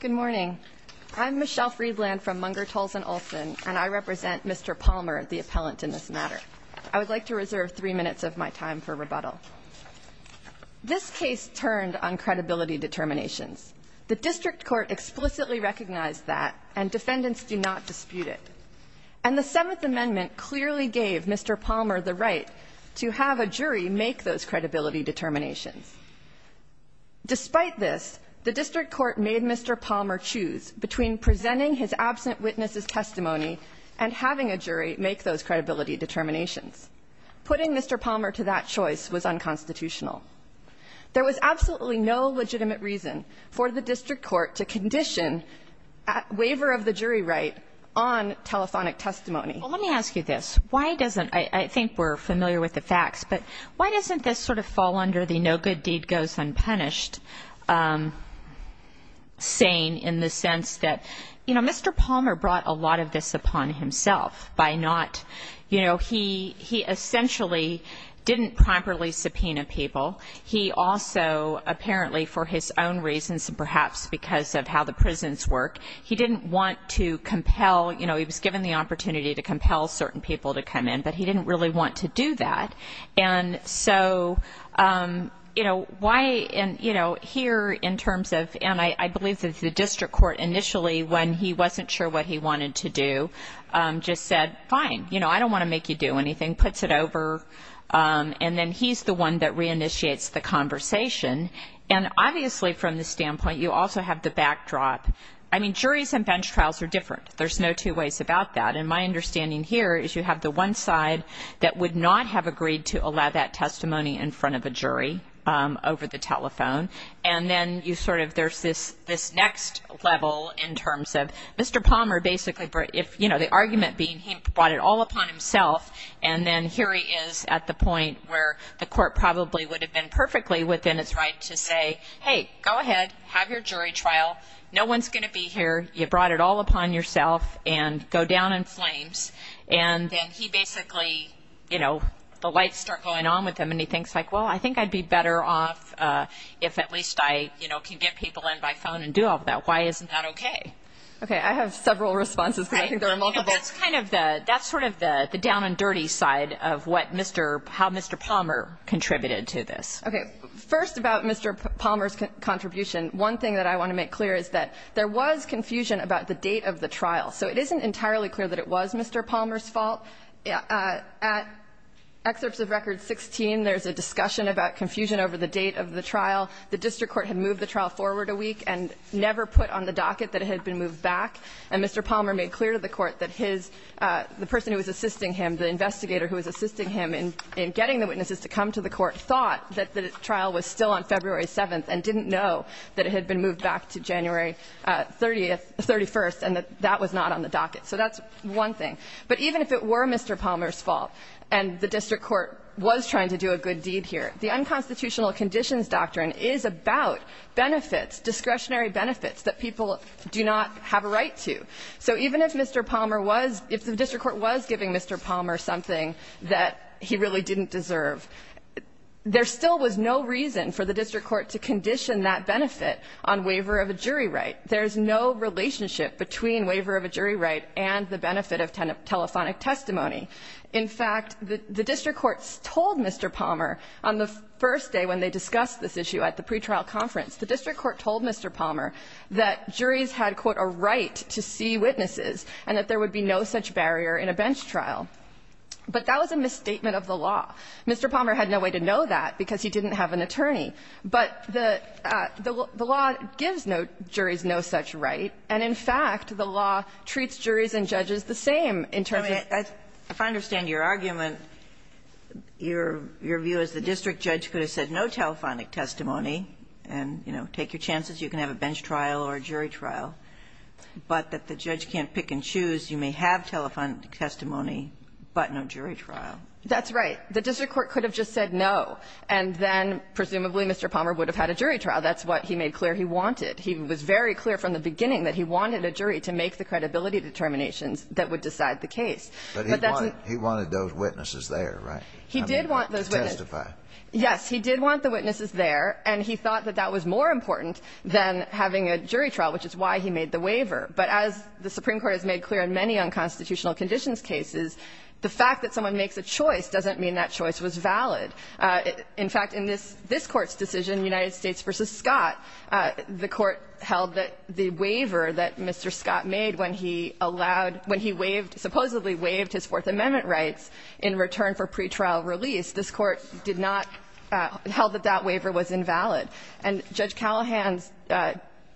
Good morning. I'm Michelle Freedland from Munger, Tolles, and Olson, and I represent Mr. Palmer, the appellant in this matter. I would like to reserve three minutes of my time for rebuttal. This case turned on credibility determinations. The district court explicitly recognized that, and defendants do not dispute it. And the Seventh Amendment clearly gave Mr. Palmer the right to have a jury make those credibility determinations. Despite this, the district court made Mr. Palmer choose between presenting his absent witness' testimony and having a jury make those credibility determinations, putting Mr. Palmer to that choice was unconstitutional. There was absolutely no legitimate reason for the district court to condition waiver of the jury right on telephonic testimony. Well, let me ask you this. Why doesn't — I think we're familiar with the facts, but why doesn't this sort of fall under the no good deed goes unpunished saying in the sense that, you know, Mr. Palmer brought a lot of this upon himself by not — you know, he essentially didn't properly subpoena people. He also apparently for his own reasons and perhaps because of how the prisons work, he didn't want to compel, you know, he was given the opportunity to compel certain people to come in, but he didn't really want to do that. And so, you know, why — and, you know, here in terms of — and I believe that the district court initially, when he wasn't sure what he wanted to do, just said, fine, you know, I don't want to make you do anything, puts it over. And then he's the one that reinitiates the conversation. And obviously from the standpoint, you also have the backdrop — I mean, juries and bench trials are different. There's no two ways about that. And my understanding here is you have the one side that would not have agreed to allow that testimony in front of a jury over the telephone. And then you sort of — there's this next level in terms of Mr. Palmer basically if, you know, the argument being he brought it all upon himself. And then here he is at the point where the court probably would have been perfectly within its right to say, hey, go ahead, have your jury trial. No one's going to be here. You brought it all upon yourself and go down in flames. And then he basically, you know, the lights start going on with him. And he thinks like, well, I think I'd be better off if at least I, you know, can get people in by phone and do all of that. Why isn't that OK? OK. I have several responses because I think there are multiple. That's kind of the — that's sort of the down and dirty side of what Mr. — how Mr. Palmer contributed to this. OK. First, about Mr. Palmer's contribution, one thing that I want to make clear is that there was confusion about the date of the trial. So it isn't entirely clear that it was Mr. Palmer's fault. At excerpts of Record 16, there's a discussion about confusion over the date of the trial. The district court had moved the trial forward a week and never put on the docket that it had been moved back. And Mr. Palmer made clear to the court that his — the person who was assisting him, the investigator who was assisting him in getting the witnesses to come to the court, thought that the trial was still on February 7th and didn't know that it had been moved back to January 30th — 31st and that that was not on the docket. So that's one thing. But even if it were Mr. Palmer's fault and the district court was trying to do a good deed here, the unconstitutional conditions doctrine is about benefits, discretionary benefits that people do not have a right to. So even if Mr. Palmer was — if the district court was giving Mr. Palmer something that he really didn't deserve, there still was no reason for the district court to condition that benefit on waiver of a jury right. There's no relationship between waiver of a jury right and the benefit of telephonic testimony. In fact, the district court told Mr. Palmer on the first day when they discussed this issue at the pretrial conference, the district court told Mr. Palmer that juries had, quote, a right to see witnesses and that there would be no such barrier in a bench trial. But that was a misstatement of the law. Mr. Palmer had no way to know that because he didn't have an attorney. But the law gives juries no such right, and in fact, the law treats juries and judges the same in terms of — Kagan, your argument, your view is the district judge could have said no telephonic testimony and, you know, take your chances, you can have a bench trial or a jury trial, but that the judge can't pick and choose. You may have telephonic testimony, but no jury trial. That's right. The district court could have just said no, and then presumably Mr. Palmer would have had a jury trial. That's what he made clear he wanted. He was very clear from the beginning that he wanted a jury to make the credibility determinations that would decide the case. But that's a — But he wanted those witnesses there, right? He did want those witnesses. To testify. Yes. He did want the witnesses there, and he thought that that was more important than having a jury trial, which is why he made the waiver. But as the Supreme Court has made clear in many unconstitutional conditions cases, the fact that someone makes a choice doesn't mean that choice was valid. In fact, in this Court's decision, United States v. Scott, the Court held that the Fourth Amendment rights in return for pretrial release, this Court did not — held that that waiver was invalid. And Judge Callahan's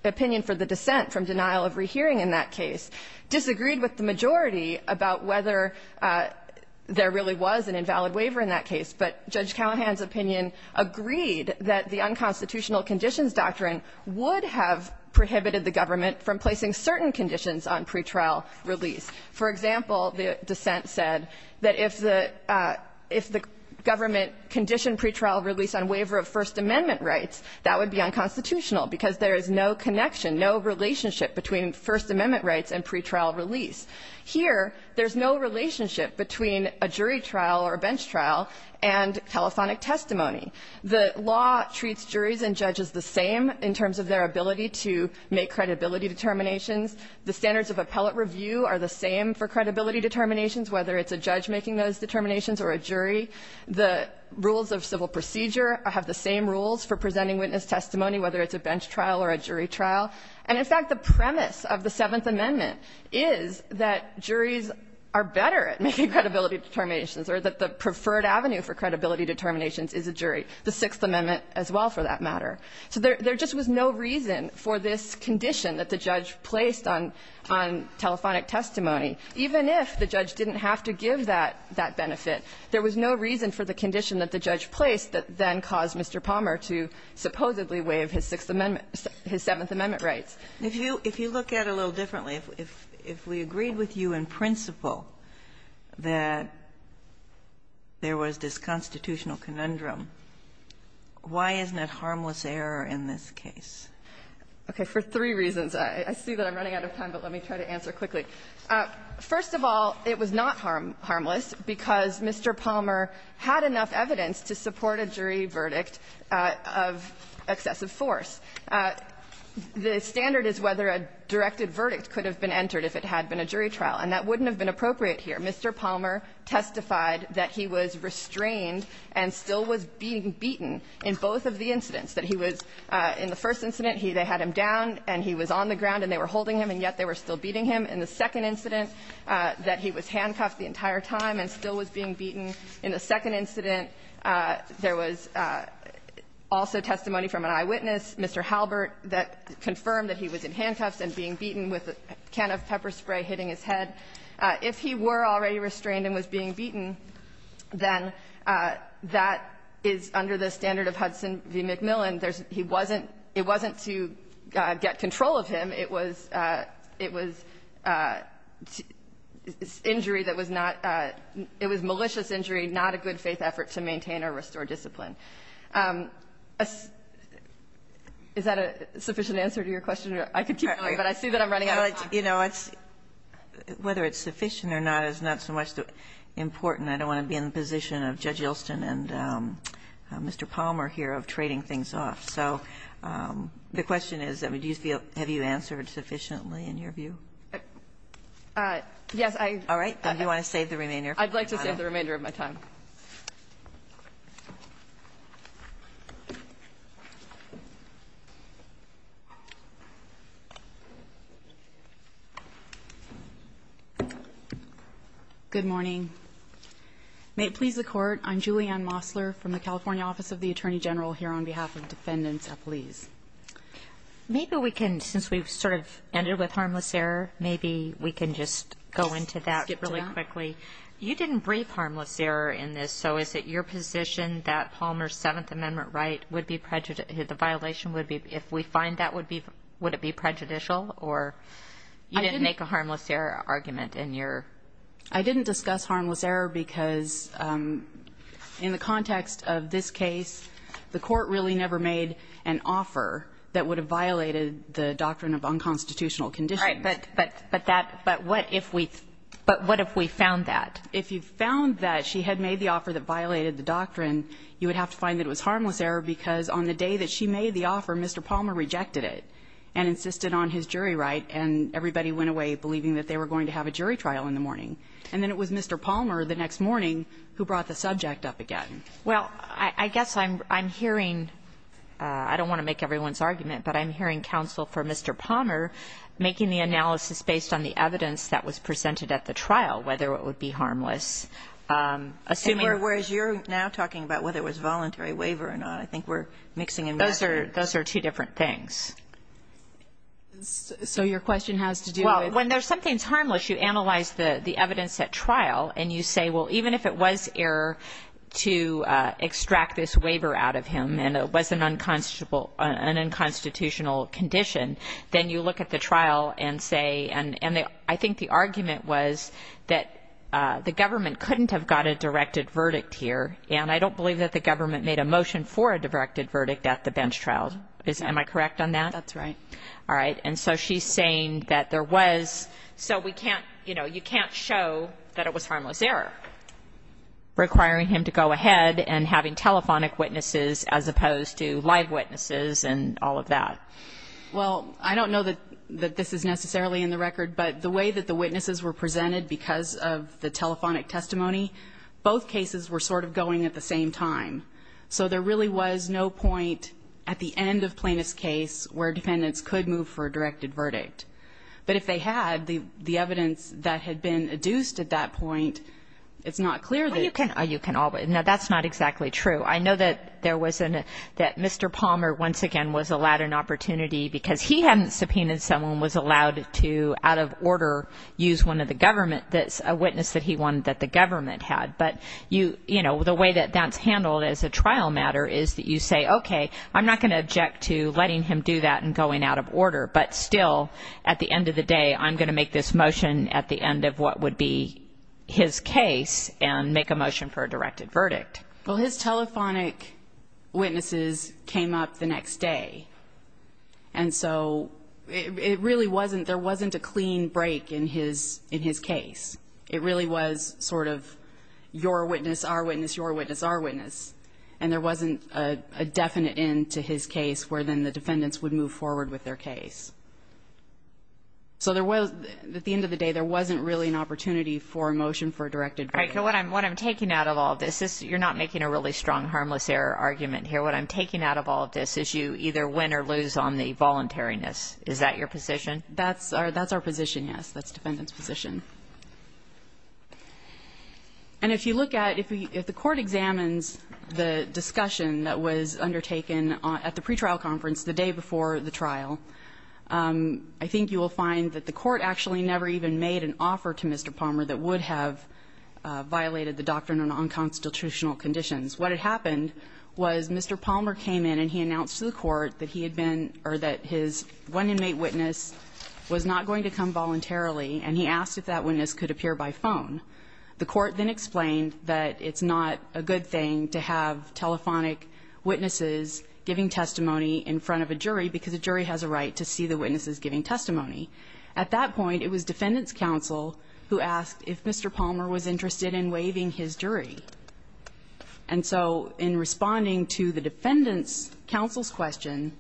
opinion for the dissent from denial of rehearing in that case disagreed with the majority about whether there really was an invalid waiver in that case. But Judge Callahan's opinion agreed that the unconstitutional conditions doctrine would have prohibited the government from placing certain conditions on pretrial release. For example, the dissent said that if the — if the government conditioned pretrial release on waiver of First Amendment rights, that would be unconstitutional, because there is no connection, no relationship between First Amendment rights and pretrial release. Here, there's no relationship between a jury trial or a bench trial and telephonic testimony. The law treats juries and judges the same in terms of their ability to make credibility determinations. The standards of appellate review are the same for credibility determinations, whether it's a judge making those determinations or a jury. The rules of civil procedure have the same rules for presenting witness testimony, whether it's a bench trial or a jury trial. And in fact, the premise of the Seventh Amendment is that juries are better at making credibility determinations or that the preferred avenue for credibility determinations is a jury, the Sixth Amendment as well, for that matter. So there just was no reason for this condition that the judge placed on telephonic testimony, even if the judge didn't have to give that benefit. There was no reason for the condition that the judge placed that then caused Mr. Palmer to supposedly waive his Sixth Amendment — his Seventh Amendment rights. Kagan. If you look at it a little differently, if we agreed with you in principle that there was this constitutional conundrum, why isn't it harmless error in this case? Okay. For three reasons. I see that I'm running out of time, but let me try to answer quickly. First of all, it was not harmless because Mr. Palmer had enough evidence to support a jury verdict of excessive force. The standard is whether a directed verdict could have been entered if it had been a jury trial, and that wouldn't have been appropriate here. Mr. Palmer testified that he was restrained and still was being beaten in both of the incidents, that he was — in the first incident, they had him down and he was on the ground and they were holding him, and yet they were still beating him. In the second incident, that he was handcuffed the entire time and still was being beaten. In the second incident, there was also testimony from an eyewitness, Mr. Halbert, that confirmed that he was in handcuffs and being beaten with a can of pepper spray hitting his head. If he were already restrained and was being beaten, then that is under the standard of Hudson v. McMillan. There's — he wasn't — it wasn't to get control of him. It was — it was injury that was not — it was malicious injury, not a good-faith effort to maintain or restore discipline. Is that a sufficient answer to your question? I could keep going, but I see that I'm running out of time. Well, you know, it's — whether it's sufficient or not is not so much important. I don't want to be in the position of Judge Yeltsin and Mr. Palmer here of trading things off. So the question is, I mean, do you feel — have you answered sufficiently in your view? Yes, I — All right. Then do you want to save the remainder of your time? I'd like to save the remainder of my time. Good morning. May it please the Court, I'm Julianne Mosler from the California Office of the Attorney General here on behalf of Defendant's Appellees. Maybe we can, since we've sort of ended with harmless error, maybe we can just go into that really quickly. You didn't brief harmless error in this, so is it your position that Palmer's Seventh Amendment right would be — the violation would be — if we find that, would it be prejudicial, or you didn't make a harmless error argument in your — I didn't discuss harmless error because in the context of this case, the Court really never made an offer that would have violated the doctrine of unconstitutional conditions. But that — but what if we — but what if we found that? If you found that she had made the offer that violated the doctrine, you would have to find that it was harmless error because on the day that she made the offer, Mr. Palmer rejected it and insisted on his jury right, and everybody went away believing that they were going to have a jury trial in the morning. And then it was Mr. Palmer the next morning who brought the subject up again. Well, I guess I'm hearing — I don't want to make everyone's argument, but I'm hearing that there was an error in the evidence that was presented at the trial, whether it would be harmless, assuming — And whereas you're now talking about whether it was voluntary waiver or not, I think we're mixing and matching. Those are — those are two different things. So your question has to do with — Well, when there's something that's harmless, you analyze the evidence at trial, and you say, well, even if it was error to extract this waiver out of him and it was an unconstitutional condition, then you look at the trial and say — and I think the argument was that the government couldn't have got a directed verdict here, and I don't believe that the government made a motion for a directed verdict at the bench trial. Am I correct on that? That's right. All right. And so she's saying that there was — so we can't — you know, you can't show that it was harmless error, requiring him to go ahead and having telephonic witnesses as opposed to live witnesses and all of that. Well, I don't know that this is necessarily in the record, but the way that the witnesses were presented because of the telephonic testimony, both cases were sort of going at the same time. So there really was no point at the end of Plaintiff's case where defendants could move for a directed verdict. But if they had, the evidence that had been adduced at that point, it's not clear that — Well, you can — you can all — now, that's not exactly true. I know that there was an — that Mr. Palmer, once again, was allowed an opportunity because he hadn't subpoenaed someone, was allowed to, out of order, use one of the government — a witness that he wanted that the government had. But you — you know, the way that that's handled as a trial matter is that you say, okay, I'm not going to object to letting him do that and going out of order. But still, at the end of the day, I'm going to make this motion at the end of what would be his case and make a motion for a directed verdict. Well, his telephonic witnesses came up the next day. And so it really wasn't — there wasn't a clean break in his — in his case. It really was sort of your witness, our witness, your witness, our witness. And there wasn't a definite end to his case where then the defendants would move forward with their case. So there was — at the end of the day, there wasn't really an opportunity for a motion for a directed verdict. All right. So what I'm — what I'm taking out of all this is you're not making a really strong harmless error argument here. What I'm taking out of all of this is you either win or lose on the voluntariness. Is that your position? That's our — that's our position, yes. That's the defendant's position. And if you look at — if the court examines the discussion that was undertaken at the pretrial conference the day before the trial, I think you will find that the court actually never even made an offer to Mr. Palmer that would have violated the doctrine of nonconstitutional conditions. What had happened was Mr. Palmer came in and he announced to the court that he had been — or that his one inmate witness was not going to come voluntarily, and he asked if that witness could appear by phone. The court then explained that it's not a good thing to have telephonic witnesses giving testimony in front of a jury because a jury has a right to see the witnesses giving testimony. At that point, it was defendant's counsel who asked if Mr. Palmer was interested in waiving his jury. And so in responding to the defendant's counsel's question,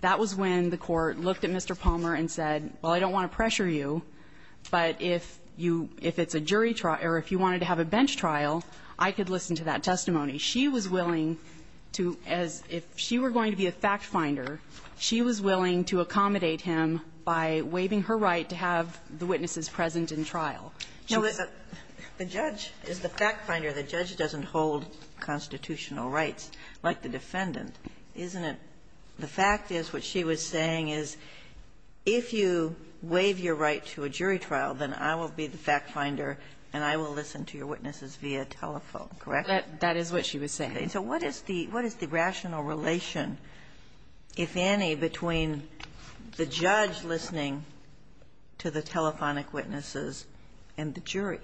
that was when the court looked at Mr. Palmer and said, well, I don't want to pressure you, but if you — if it's a jury trial — or if you wanted to have a bench trial, I could listen to that testimony. She was willing to — as if she were going to be a fact finder, she was willing to accommodate him by waiving her right to have the witnesses present in trial. She was a — Kagan. The judge is the fact finder. The judge doesn't hold constitutional rights like the defendant, isn't it? The fact is, what she was saying is, if you waive your right to a jury trial, then I will be the fact finder and I will listen to your witnesses via telephone, correct? That is what she was saying. And so what is the — what is the rational relation, if any, between the judge listening to the telephonic witnesses and the jury?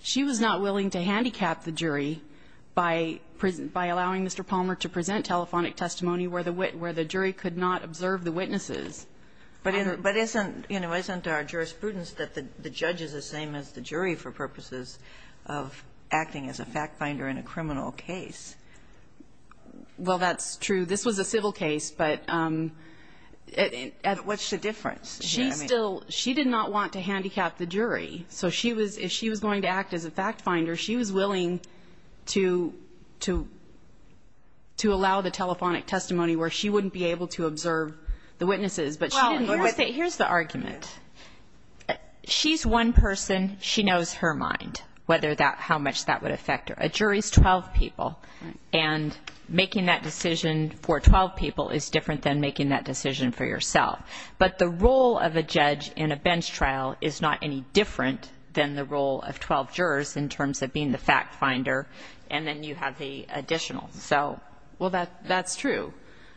She was not willing to handicap the jury by — by allowing Mr. Palmer to present telephonic testimony where the — where the jury could not observe the witnesses. But isn't — you know, isn't our jurisprudence that the judge is the same as the jury for purposes of acting as a fact finder in a criminal case? Well, that's true. This was a civil case, but at — But what's the difference? She's still — she did not want to handicap the jury. So she was — if she was going to act as a fact finder, she was willing to — to allow the telephonic testimony where she wouldn't be able to observe the witnesses. Well, here's the — here's the argument. She's one person. She knows her mind, whether that — how much that would affect her. A jury's 12 people. And making that decision for 12 people is different than making that decision for yourself. But the role of a judge in a bench trial is not any different than the role of 12 jurors in terms of being the fact finder. And then you have the additional. So — Well, that — that's true.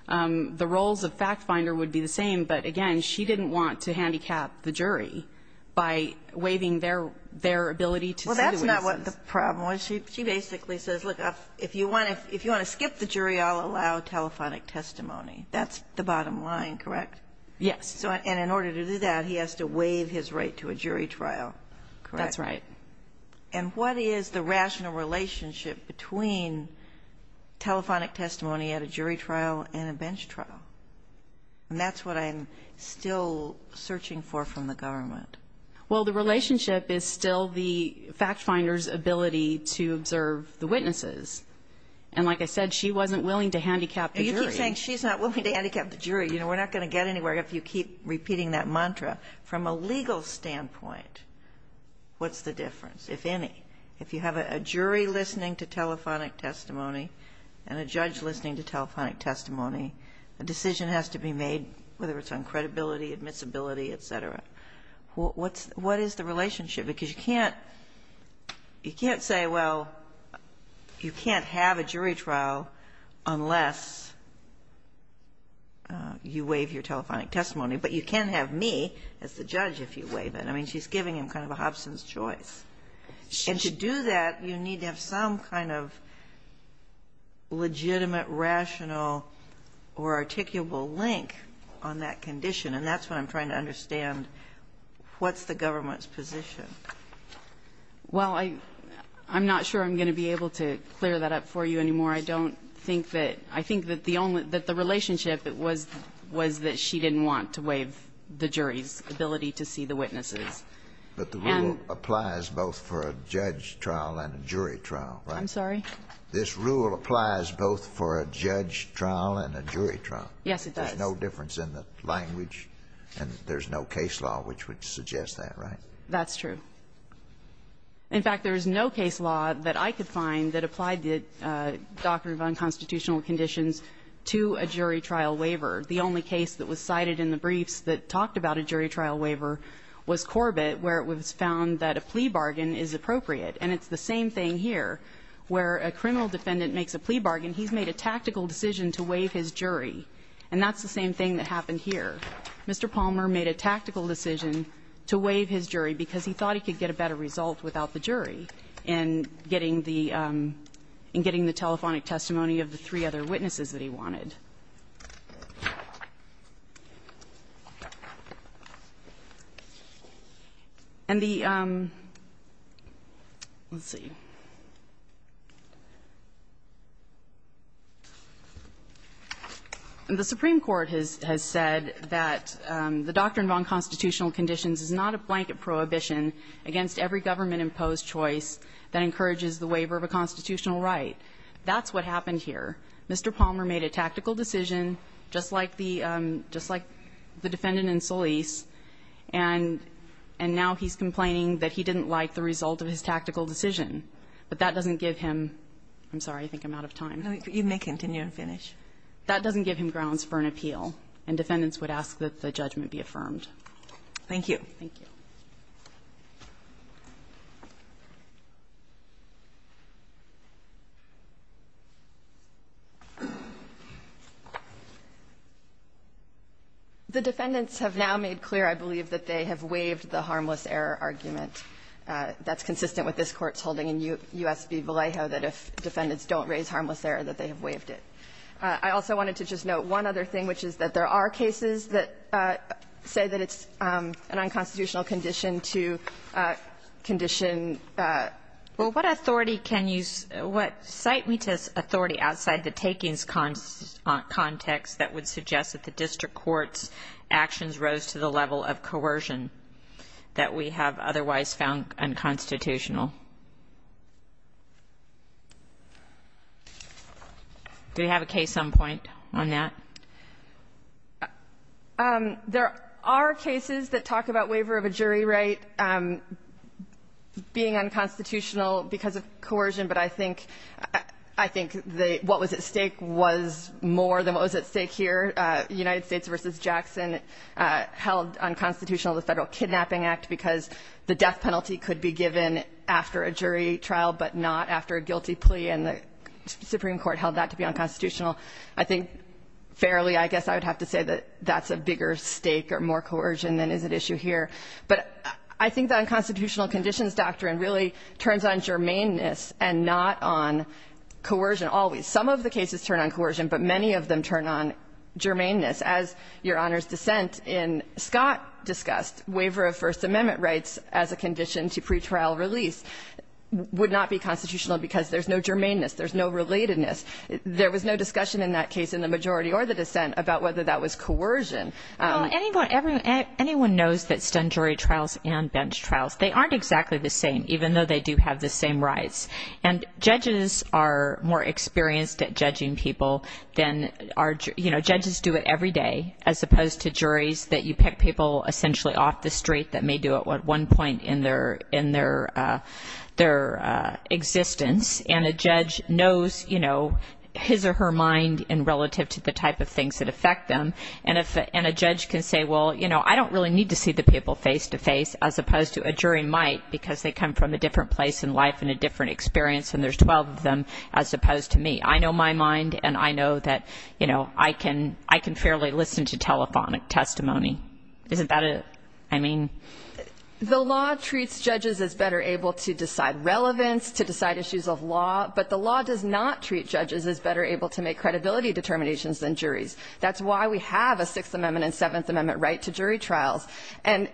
The roles of fact finder would be the same, but again, she didn't want to handicap the jury by waiving their — their ability to see the witnesses. Well, that's not what the problem was. She basically says, look, if you want to — if you want to skip the jury, I'll allow telephonic testimony. That's the bottom line, correct? Yes. So — and in order to do that, he has to waive his right to a jury trial, correct? That's right. And what is the rational relationship between telephonic testimony at a jury trial and a bench trial? And that's what I'm still searching for from the government. Well, the relationship is still the fact finder's ability to observe the witnesses. And like I said, she wasn't willing to handicap the jury. And you keep saying she's not willing to handicap the jury. You know, we're not going to get anywhere if you keep repeating that mantra. From a legal standpoint, what's the difference, if any? If you have a jury listening to telephonic testimony and a judge listening to telephonic testimony, a decision has to be made, whether it's on credibility, admissibility, et cetera. What is the relationship? Because you can't — you can't say, well, you can't have a jury trial unless you waive your telephonic testimony, but you can have me as the judge if you waive it. I mean, she's giving him kind of a Hobson's choice. And to do that, you need to have some kind of legitimate, rational or articulable link on that condition. And that's what I'm trying to understand. What's the government's position? Well, I'm not sure I'm going to be able to clear that up for you anymore. I don't think that — I think that the only — that the relationship was that she didn't want to waive the jury's ability to see the witnesses. But the rule applies both for a judge trial and a jury trial, right? I'm sorry? This rule applies both for a judge trial and a jury trial. Yes, it does. There's no difference in the language, and there's no case law which would suggest that, right? That's true. In fact, there is no case law that I could find that applied the doctrine of unconstitutional conditions to a jury trial waiver. The only case that was cited in the briefs that talked about a jury trial waiver was Corbett, where it was found that a plea bargain is appropriate. And it's the same thing here, where a criminal defendant makes a plea bargain, he's made a tactical decision to waive his jury. And that's the same thing that happened here. Mr. Palmer made a tactical decision to waive his jury because he thought he could get a better result without the jury in getting the — in getting the telephonic testimony of the three other witnesses that he wanted. And the — let's see. The Supreme Court has said that the doctrine of unconstitutional conditions is not a blanket prohibition against every government-imposed choice that encourages the waiver of a constitutional right. That's what happened here. Mr. Palmer made a tactical decision, just like the — just like the defendant in Solis, and now he's complaining that he didn't like the result of his tactical decision. But that doesn't give him — I'm sorry, I think I'm out of time. You may continue and finish. That doesn't give him grounds for an appeal. And defendants would ask that the judgment be affirmed. Thank you. Thank you. The defendants have now made clear, I believe, that they have waived the harmless error argument. That's consistent with this Court's holding in U.S. v. Vallejo that if defendants don't raise harmless error, that they have waived it. I also wanted to just note one other thing, which is that there are cases that say that it's an unconstitutional condition to condition — Well, what authority can you — what — cite me to authority outside the takings context that would suggest that the district court's actions rose to the level of coercion that we have otherwise found unconstitutional? Do we have a case on point on that? There are cases that talk about waiver of a jury right being unconstitutional because of coercion, but I think — I think the — what was at stake was more than what was at stake here. United States v. Jackson held unconstitutional the Federal Kidnapping Act because the death penalty could be given after a jury trial but not after a guilty plea, and the Supreme Court held that to be unconstitutional. I think, fairly, I guess I would have to say that that's a bigger stake or more coercion than is at issue here. But I think the unconstitutional conditions doctrine really turns on germaneness and not on coercion always. Some of the cases turn on coercion, but many of them turn on germaneness. As Your Honor's dissent in Scott discussed, waiver of First Amendment rights as a condition to pretrial release would not be constitutional because there's no germaneness, there's no relatedness. There was no discussion in that case in the majority or the dissent about whether that was coercion. Well, anyone knows that stunned jury trials and bench trials, they aren't exactly the same, even though they do have the same rights. And judges are more experienced at judging people than are, you know, judges do it every day as opposed to juries that you pick people essentially off the street that may do it at one point in their existence. And a judge knows, you know, his or her mind in relative to the type of things that affect them. And a judge can say, well, you know, I don't really need to see the people face-to-face as opposed to a jury might because they come from a different place in life and a different experience and there's 12 of them as opposed to me. I know my mind and I know that, you know, I can fairly listen to telephonic testimony. Isn't that a, I mean? The law treats judges as better able to decide relevance, to decide issues of law, but the law does not treat judges as better able to make credibility determinations than juries. That's why we have a Sixth Amendment and Seventh Amendment right to jury trials. And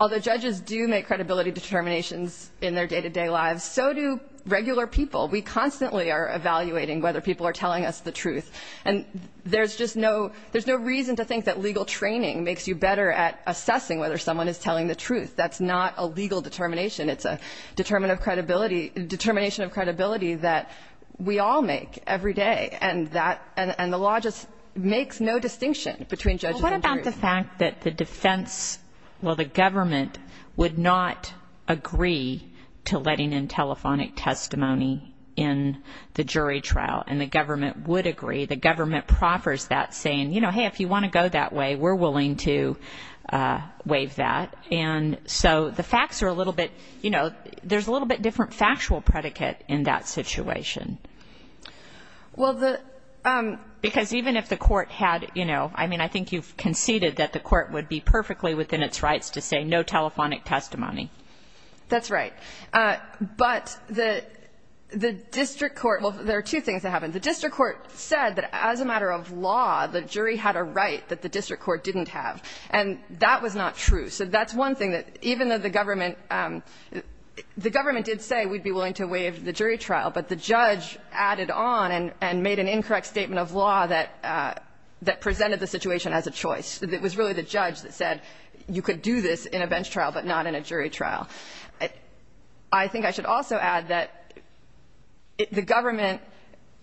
although judges do make credibility determinations in their day-to-day lives, so do regular people. We constantly are evaluating whether people are telling us the truth. And there's just no, there's no reason to think that legal training makes you better at assessing whether someone is telling the truth. That's not a legal determination. It's a determination of credibility that we all make every day. And the law just makes no distinction between judges and juries. What about the fact that the defense, well, the government would not agree to letting in telephonic testimony in the jury trial? And the government would agree. The government proffers that saying, you know, hey, if you want to go that way, we're willing to waive that. And so the facts are a little bit, you know, there's a little bit different factual predicate in that situation. Well, the, because even if the court had, you know, I mean, I think you've conceded that the court would be perfectly within its rights to say no telephonic testimony. That's right. But the district court, well, there are two things that happened. The district court said that as a matter of law, the jury had a right that the district court didn't have. And that was not true. So that's one thing that even though the government, the government did say we'd be willing to waive the jury trial, but the judge added on and made an incorrect statement of law that presented the situation as a choice. It was really the judge that said you could do this in a bench trial, but not in a jury trial. I think I should also add that the government,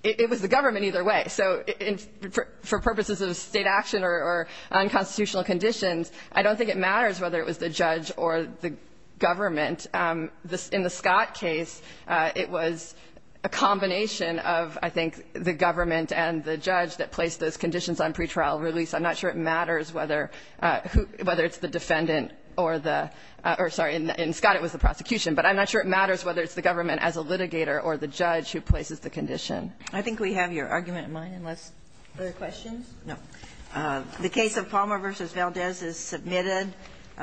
it was the government either way. So for purposes of state action or unconstitutional conditions, I don't think it matters whether it was the judge or the government. In the Scott case, it was a combination of, I think, the government and the judge that placed those conditions on pretrial release. I'm not sure it matters whether it's the defendant or the, or sorry, in Scott it was the prosecution. But I'm not sure it matters whether it's the government as a litigator or the judge who places the condition. I think we have your argument in mind unless, other questions? No. The case of Palmer versus Valdez is submitted.